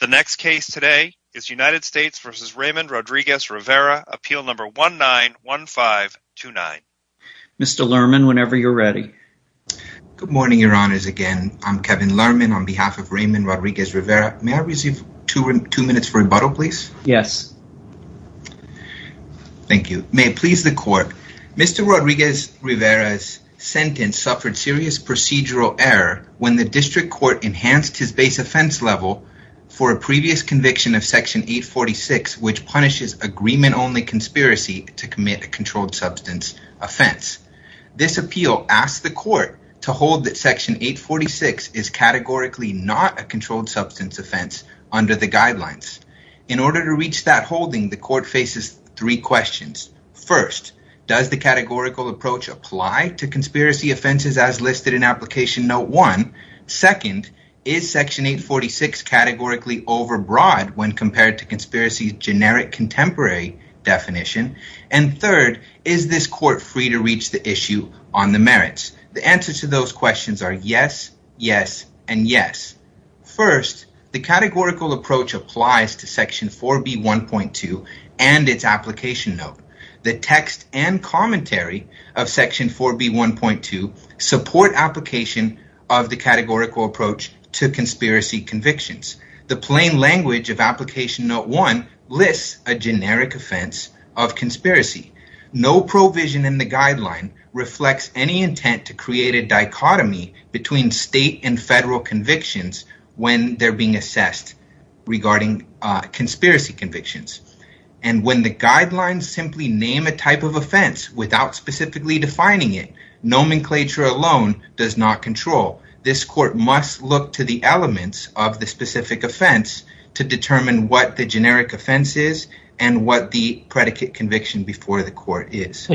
The next case today is United States v. Raymond Rodriguez-Rivera, appeal number 191529. Mr. Lerman, whenever you're ready. Good morning, your honors. Again, I'm Kevin Lerman on behalf of Raymond Rodriguez-Rivera. May I receive two minutes for rebuttal, please? Yes. Thank you. May it please the court. Mr. Rodriguez-Rivera's sentence suffered serious procedural error when the district court enhanced his base offense level for a previous conviction of Section 846, which punishes agreement-only conspiracy to commit a controlled substance offense. This appeal asked the court to hold that Section 846 is categorically not a controlled substance offense under the guidelines. In order to reach that holding, the court faces three questions. First, does the categorical approach apply to conspiracy offenses as listed in Application Note 1? Second, is Section 846 categorically overbroad when compared to conspiracy's generic contemporary definition? And third, is this court free to reach the issue on the merits? The answers to those questions are yes, yes, and yes. First, the categorical approach applies to Section 4B1.2 and its Application Note. The text and commentary of Section 4B1.2 support application of the categorical approach to conspiracy convictions. The plain language of Application Note 1 lists a generic offense of conspiracy. No provision in the guideline reflects any intent to create a dichotomy between state and federal convictions when they're being assessed regarding conspiracy convictions. And when the guidelines simply name a type of offense without specifically defining it, nomenclature alone does not control. This court must look to the elements of the specific offense to determine what the generic offense is and what the predicate conviction before the court is.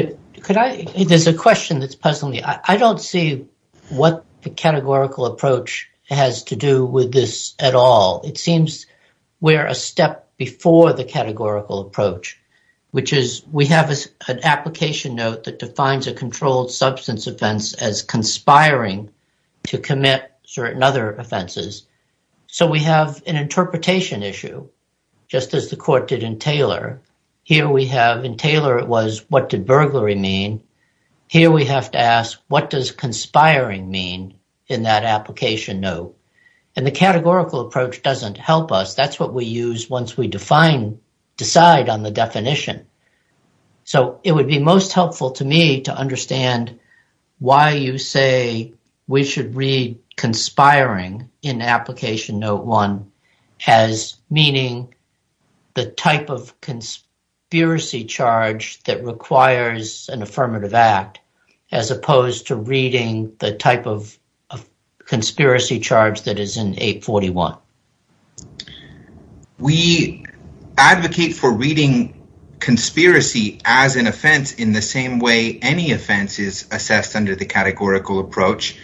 There's a question that's puzzling me. I don't see what the categorical approach has to do with this at all. It seems we're a step before the an Application Note that defines a controlled substance offense as conspiring to commit certain other offenses. So we have an interpretation issue, just as the court did in Taylor. Here we have, in Taylor, it was what did burglary mean? Here we have to ask what does conspiring mean in that Application Note? And the categorical approach doesn't help us. That's what we use once we decide on the definition. So it would be most helpful to me to understand why you say we should read conspiring in Application Note 1 as meaning the type of conspiracy charge that requires an affirmative act as opposed to reading the type of conspiracy charge that is in 841. We advocate for reading conspiracy as an offense in the same way any offense is assessed under the categorical approach.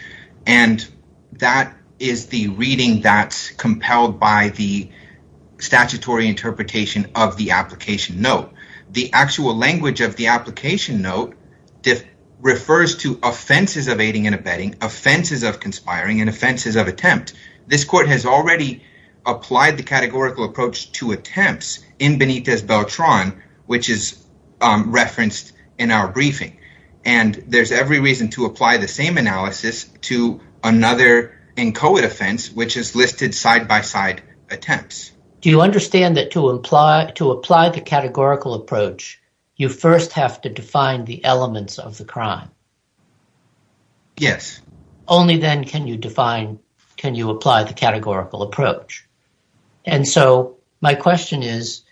And that is the reading that's compelled by the statutory interpretation of the Application Note. The actual language of the Application Note refers to offenses of aiding and abetting, offenses of conspiring, and offenses of attempt. This court has already applied the categorical approach to attempts in Benitez Beltran, which is referenced in our briefing. And there's every reason to apply the same analysis to another inchoate offense, which is listed side-by-side attempts. Do you understand that to apply the categorical approach, you first have to define the elements of the crime? Yes. Only then can you apply the categorical approach. And so my question is,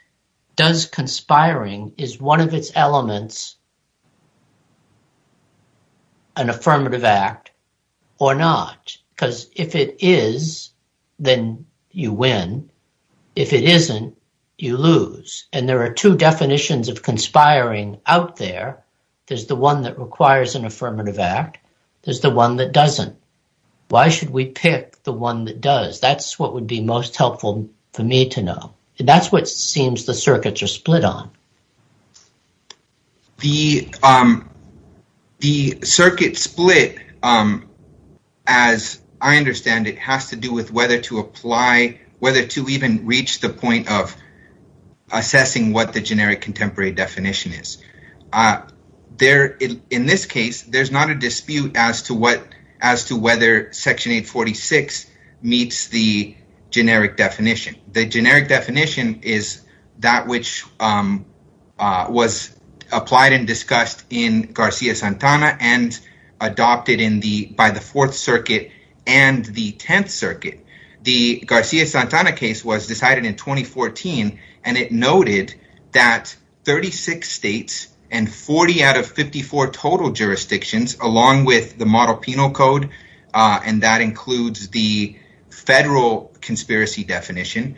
does conspiring, is one of its elements an affirmative act or not? Because if it is, then you win. If it isn't, you lose. And there are two definitions of conspiring out there. There's the one that requires an affirmative act. There's the one that doesn't. Why should we pick the one that does? That's what would be most helpful for me to know. And that's what seems the circuits are split on. The circuit split, as I understand it, has to do with whether to apply, of assessing what the generic contemporary definition is. In this case, there's not a dispute as to whether Section 846 meets the generic definition. The generic definition is that which was applied and discussed in Garcia-Santana and adopted by the Fourth Circuit and the Tenth Circuit. The Garcia-Santana case was decided in 2014, and it noted that 36 states and 40 out of 54 total jurisdictions, along with the model penal code, and that includes the federal conspiracy definition,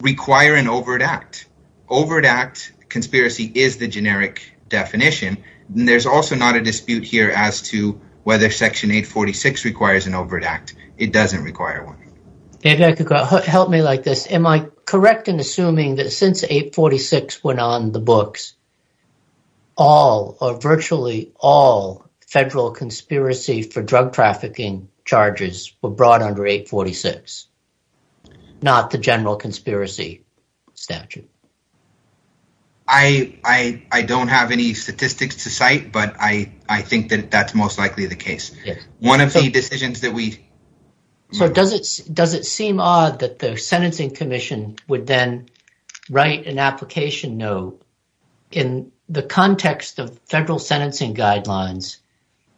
require an overt act. Overt act conspiracy is the generic definition. There's also not a dispute here as to whether Section 846 requires an overt act. It doesn't require one. Help me like this. Am I correct in assuming that since 846 went on the books, all or virtually all federal conspiracy for drug trafficking charges were brought under 846, not the general conspiracy statute? I don't have any statistics to cite, but I think that that's most likely the case. One of the decisions that we... So does it seem odd that the Sentencing Commission would then write an application note in the context of federal sentencing guidelines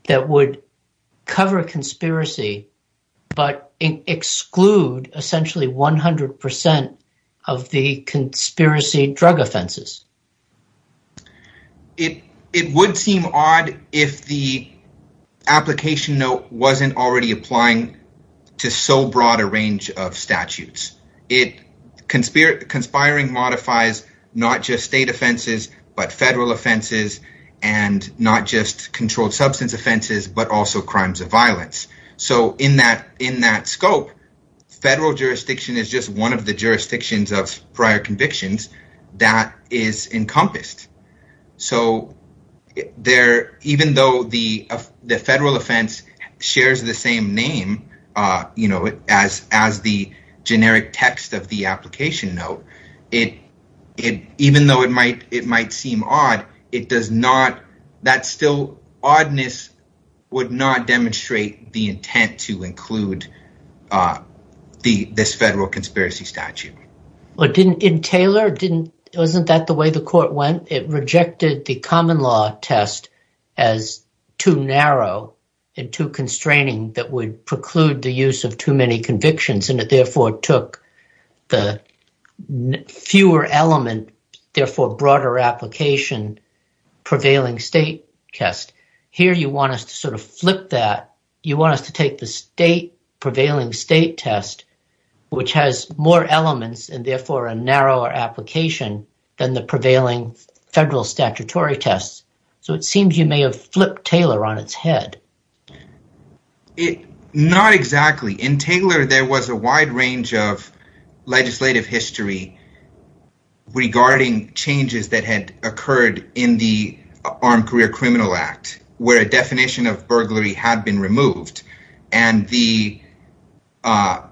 that would cover conspiracy, but exclude essentially 100 percent of the conspiracy drug offenses? It would seem odd if the application note wasn't already applying to so broad a range of statutes. Conspiring modifies not just state offenses, but federal offenses, and not just controlled substance offenses, but also crimes of violence. So in that scope, federal jurisdiction is just one of the jurisdictions of prior convictions that is encompassed. So even though the federal offense shares the same name as the generic text of the that still oddness would not demonstrate the intent to include this federal conspiracy statute. In Taylor, wasn't that the way the court went? It rejected the common law test as too narrow and too constraining that would preclude the use of too many convictions, and it therefore took the fewer element, therefore broader application prevailing state test. Here you want us to sort of flip that. You want us to take the state prevailing state test, which has more elements and therefore a narrower application than the prevailing federal statutory tests. So it seems you may have flipped Taylor on its head. Not exactly. In Taylor there was a wide range of legislative history regarding changes that had occurred in the Armed Career Criminal Act, where a definition of burglary had been removed, and that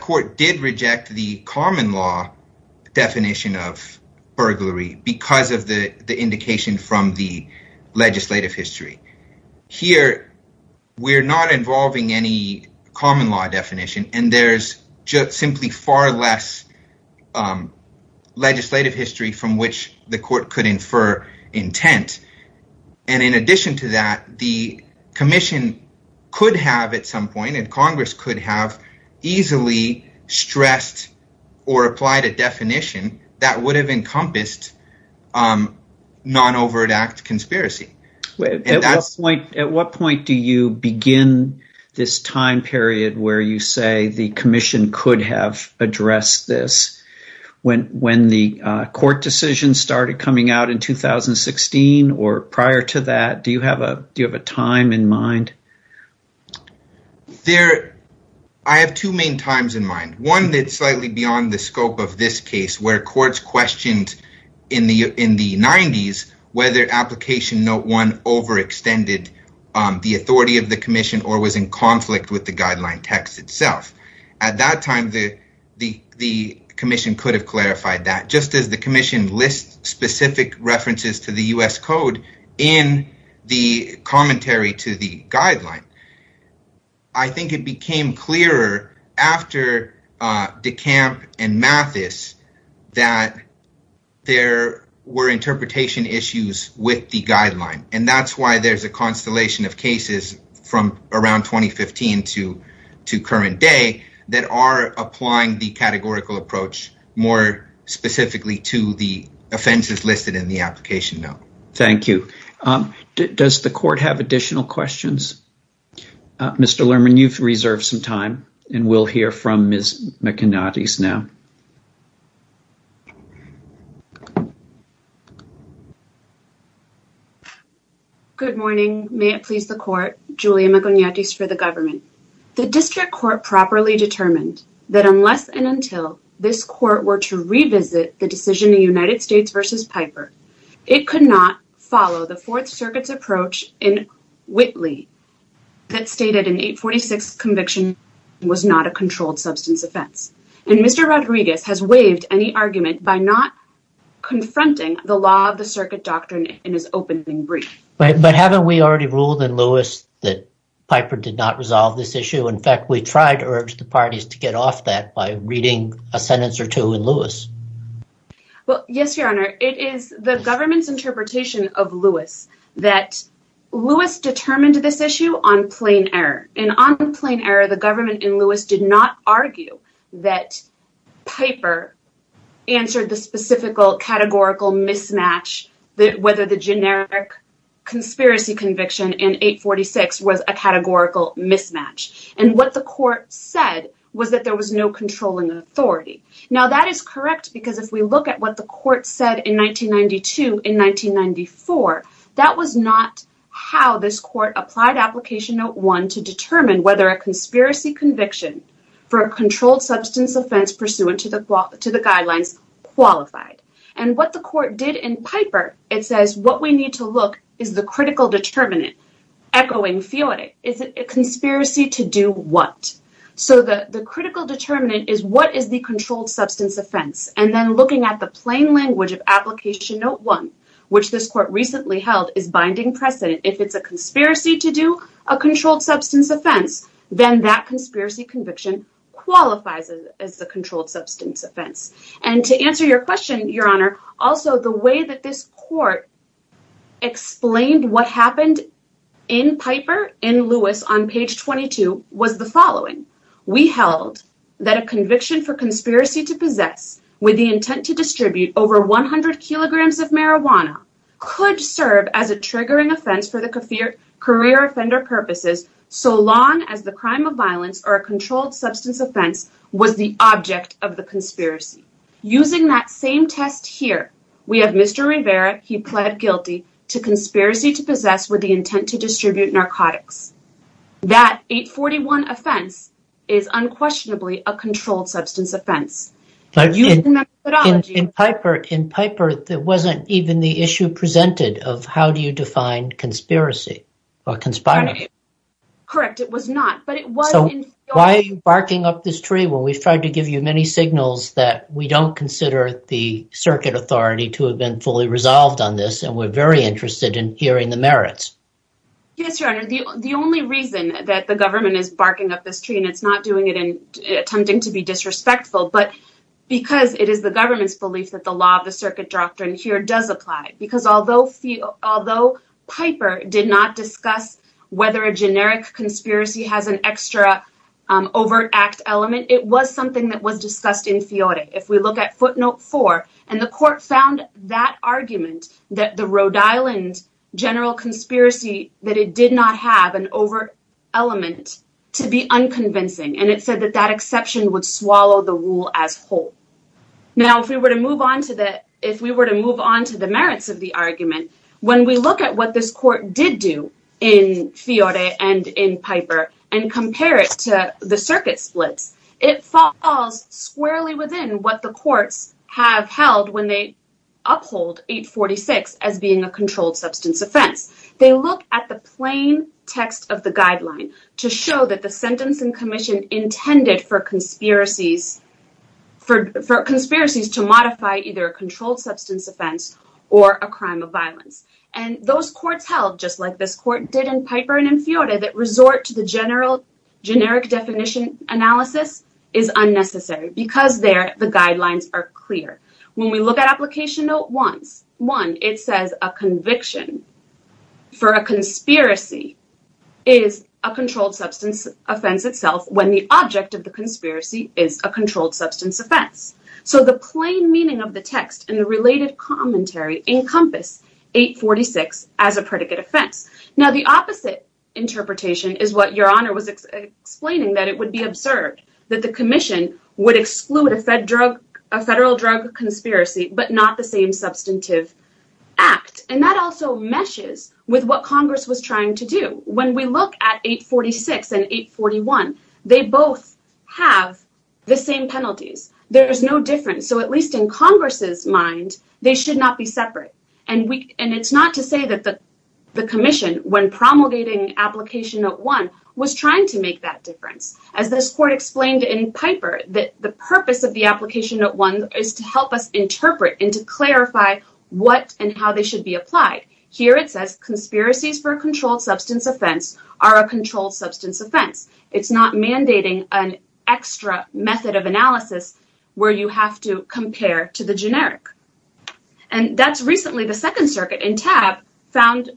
court did reject the common law definition of burglary because of the indication from the legislative history. Here we're not involving any common law definition, and there's just simply far less legislative history from which the court could infer intent. And in addition to that, the commission could have at some point, and Congress could have easily stressed or applied a definition that would have encompassed non-overdue act where you say the commission could have addressed this. When the court decision started coming out in 2016 or prior to that, do you have a time in mind? I have two main times in mind. One that's slightly beyond the scope of this case where courts questioned in the 90s whether application note one overextended the authority of the commission or was in conflict with the guideline text itself. At that time, the commission could have clarified that just as the commission lists specific references to the U.S. Code in the commentary to the guideline. I think it became clearer after DeCamp and Mathis that there were interpretation issues with the guideline, and that's why there's a constellation of cases from around 2015 to current day that are applying the categorical approach more specifically to the offenses listed in the application note. Thank you. Does the court have additional questions? Mr. Lerman, you've reserved some time, and we'll hear from Ms. McIgnatis now. Good morning. May it please the court, Julia McIgnatis for the government. The district court properly determined that unless and until this court were to revisit the decision in United States versus Piper, it could not follow the Fourth Circuit's approach in Whitley that stated an 846 conviction was not a controlled substance offense, and Mr. Rodriguez has waived any argument by not confronting the law of the circuit doctrine in his opening brief. But haven't we already ruled in Lewis that Piper did not resolve this issue? In fact, we tried to urge the parties to get off that by reading a sentence or two in Well, yes, your honor. It is the government's interpretation of Lewis that Lewis determined this issue on plain error, and on plain error the government in Lewis did not argue that Piper answered the specifical categorical mismatch that whether the generic conspiracy conviction in 846 was a categorical mismatch, and what the court said was that there was no controlling authority. Now that is correct because if we look at what the court said in 1992 in 1994, that was not how this court applied application note one to determine whether a conspiracy conviction for a controlled substance offense pursuant to the to the guidelines qualified. And what the court did in Piper, it says what we need to look is the critical determinant, echoing Fiore, is it a conspiracy to do what? So the the critical determinant is what is the substance offense, and then looking at the plain language of application note one, which this court recently held is binding precedent. If it's a conspiracy to do a controlled substance offense, then that conspiracy conviction qualifies as the controlled substance offense. And to answer your question, your honor, also the way that this court explained what on page 22 was the following. We held that a conviction for conspiracy to possess with the intent to distribute over 100 kilograms of marijuana could serve as a triggering offense for the career offender purposes so long as the crime of violence or a controlled substance offense was the object of the conspiracy. Using that same test here, we have Mr. Rivera, he pled guilty to that 841 offense is unquestionably a controlled substance offense. In Piper, there wasn't even the issue presented of how do you define conspiracy or conspiring. Correct, it was not. So why are you barking up this tree when we've tried to give you many signals that we don't consider the circuit authority to have been fully resolved on this, and we're very interested in hearing the merits? Yes, your honor, the only reason that the government is barking up this tree, and it's not doing it in attempting to be disrespectful, but because it is the government's belief that the law of the circuit doctrine here does apply. Because although Piper did not discuss whether a generic conspiracy has an extra overt act element, it was something that was discussed in Fiore. If we look at footnote four, and the court found that argument that the Rhode Island general conspiracy that it did not have an overt element to be unconvincing, and it said that that exception would swallow the rule as whole. Now, if we were to move on to the merits of the argument, when we look at what this court did do in Fiore and in Piper, and compare it to the circuit splits, it falls squarely within what the courts have held when they uphold 846 as being a controlled substance offense. They look at the plain text of the guideline to show that the sentence and commission intended for conspiracies to modify either a controlled substance offense or a crime of violence. And those courts held, just like this court did in Piper and in Fiore, that resort to the general generic definition analysis is unnecessary because there the guidelines are clear. When we look at application note one, it says a conviction for a conspiracy is a controlled substance offense itself when the object of the conspiracy is a controlled substance offense. So the plain meaning of the text and the related commentary encompass 846 as a predicate offense. Now the opposite interpretation is what observed that the commission would exclude a federal drug conspiracy but not the same substantive act. And that also meshes with what Congress was trying to do. When we look at 846 and 841, they both have the same penalties. There's no difference. So at least in Congress's mind, they should not be separate. And it's not to say that the commission, when promulgating application note one, was trying to make that difference. As this court explained in Piper, that the purpose of the application note one is to help us interpret and to clarify what and how they should be applied. Here it says conspiracies for a controlled substance offense are a controlled substance offense. It's not mandating an extra method of analysis where you have to compare to generic. And that's recently the second circuit in TAB found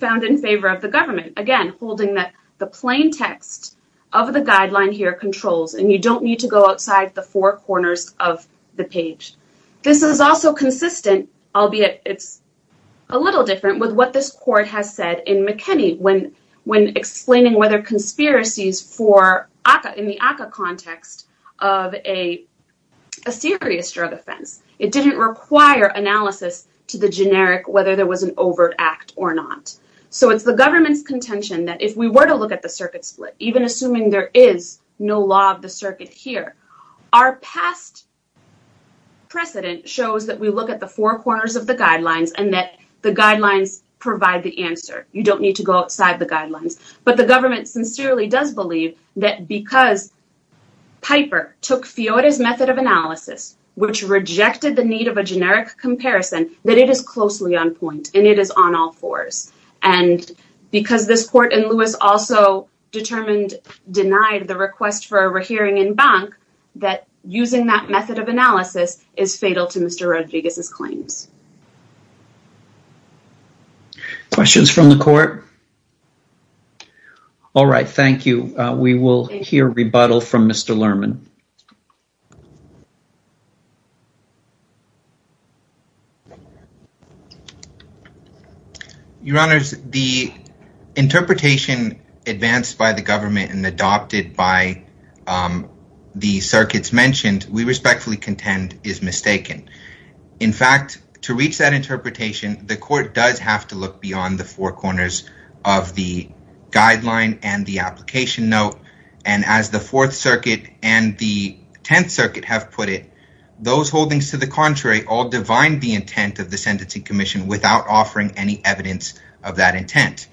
in favor of the government. Again, holding that the plain text of the guideline here controls and you don't need to go outside the four corners of the page. This is also consistent, albeit it's a little different, with what this court has said in McKinney when explaining whether conspiracies for a serious drug offense. It didn't require analysis to the generic, whether there was an overt act or not. So it's the government's contention that if we were to look at the circuit split, even assuming there is no law of the circuit here, our past precedent shows that we look at the four corners of the guidelines and that the guidelines provide the answer. You don't need to go outside the guidelines. But the government sincerely does believe that because Piper took Fiore's method of analysis, which rejected the need of a generic comparison, that it is closely on point and it is on all fours. And because this court in Lewis also determined, denied the request for a hearing in Bank, that using that method of analysis questions from the court. All right, thank you. We will hear rebuttal from Mr. Lerman. Your Honor, the interpretation advanced by the government and adopted by the circuits mentioned, we respectfully contend is mistaken. In fact, to the extent reached that interpretation, the court does have to look beyond the four corners of the guideline and the application note. And as the Fourth Circuit and the Tenth Circuit have put it, those holdings to the contrary, all divine the intent of the sentencing commission without offering any evidence of that intent.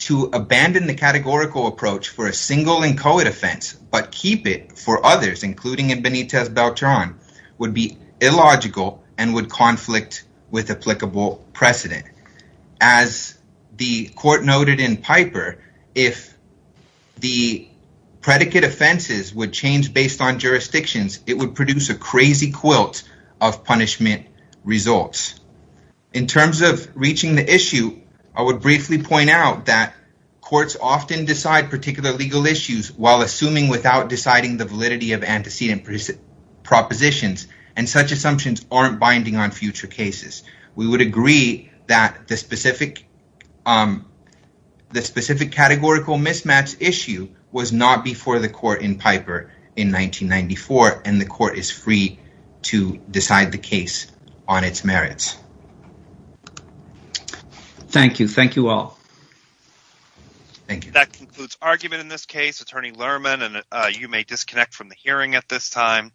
To abandon the categorical approach for a single inchoate offense, but keep it for others, including in Benitez Beltran, would be illogical and would conflict with applicable precedent. As the court noted in Piper, if the predicate offenses would change based on jurisdictions, it would produce a crazy quilt of punishment results. In terms of reaching the issue, I would briefly point out that courts often decide particular legal issues while assuming without deciding the validity of antecedent propositions, and such assumptions aren't binding on future cases. We would agree that the specific categorical mismatch issue was not before the court in Piper in 1994, and the court is free to decide the case on its merits. Thank you. Thank you all. Thank you. That concludes argument in this case. Attorney Lerman, and you may disconnect from the hearing at this time.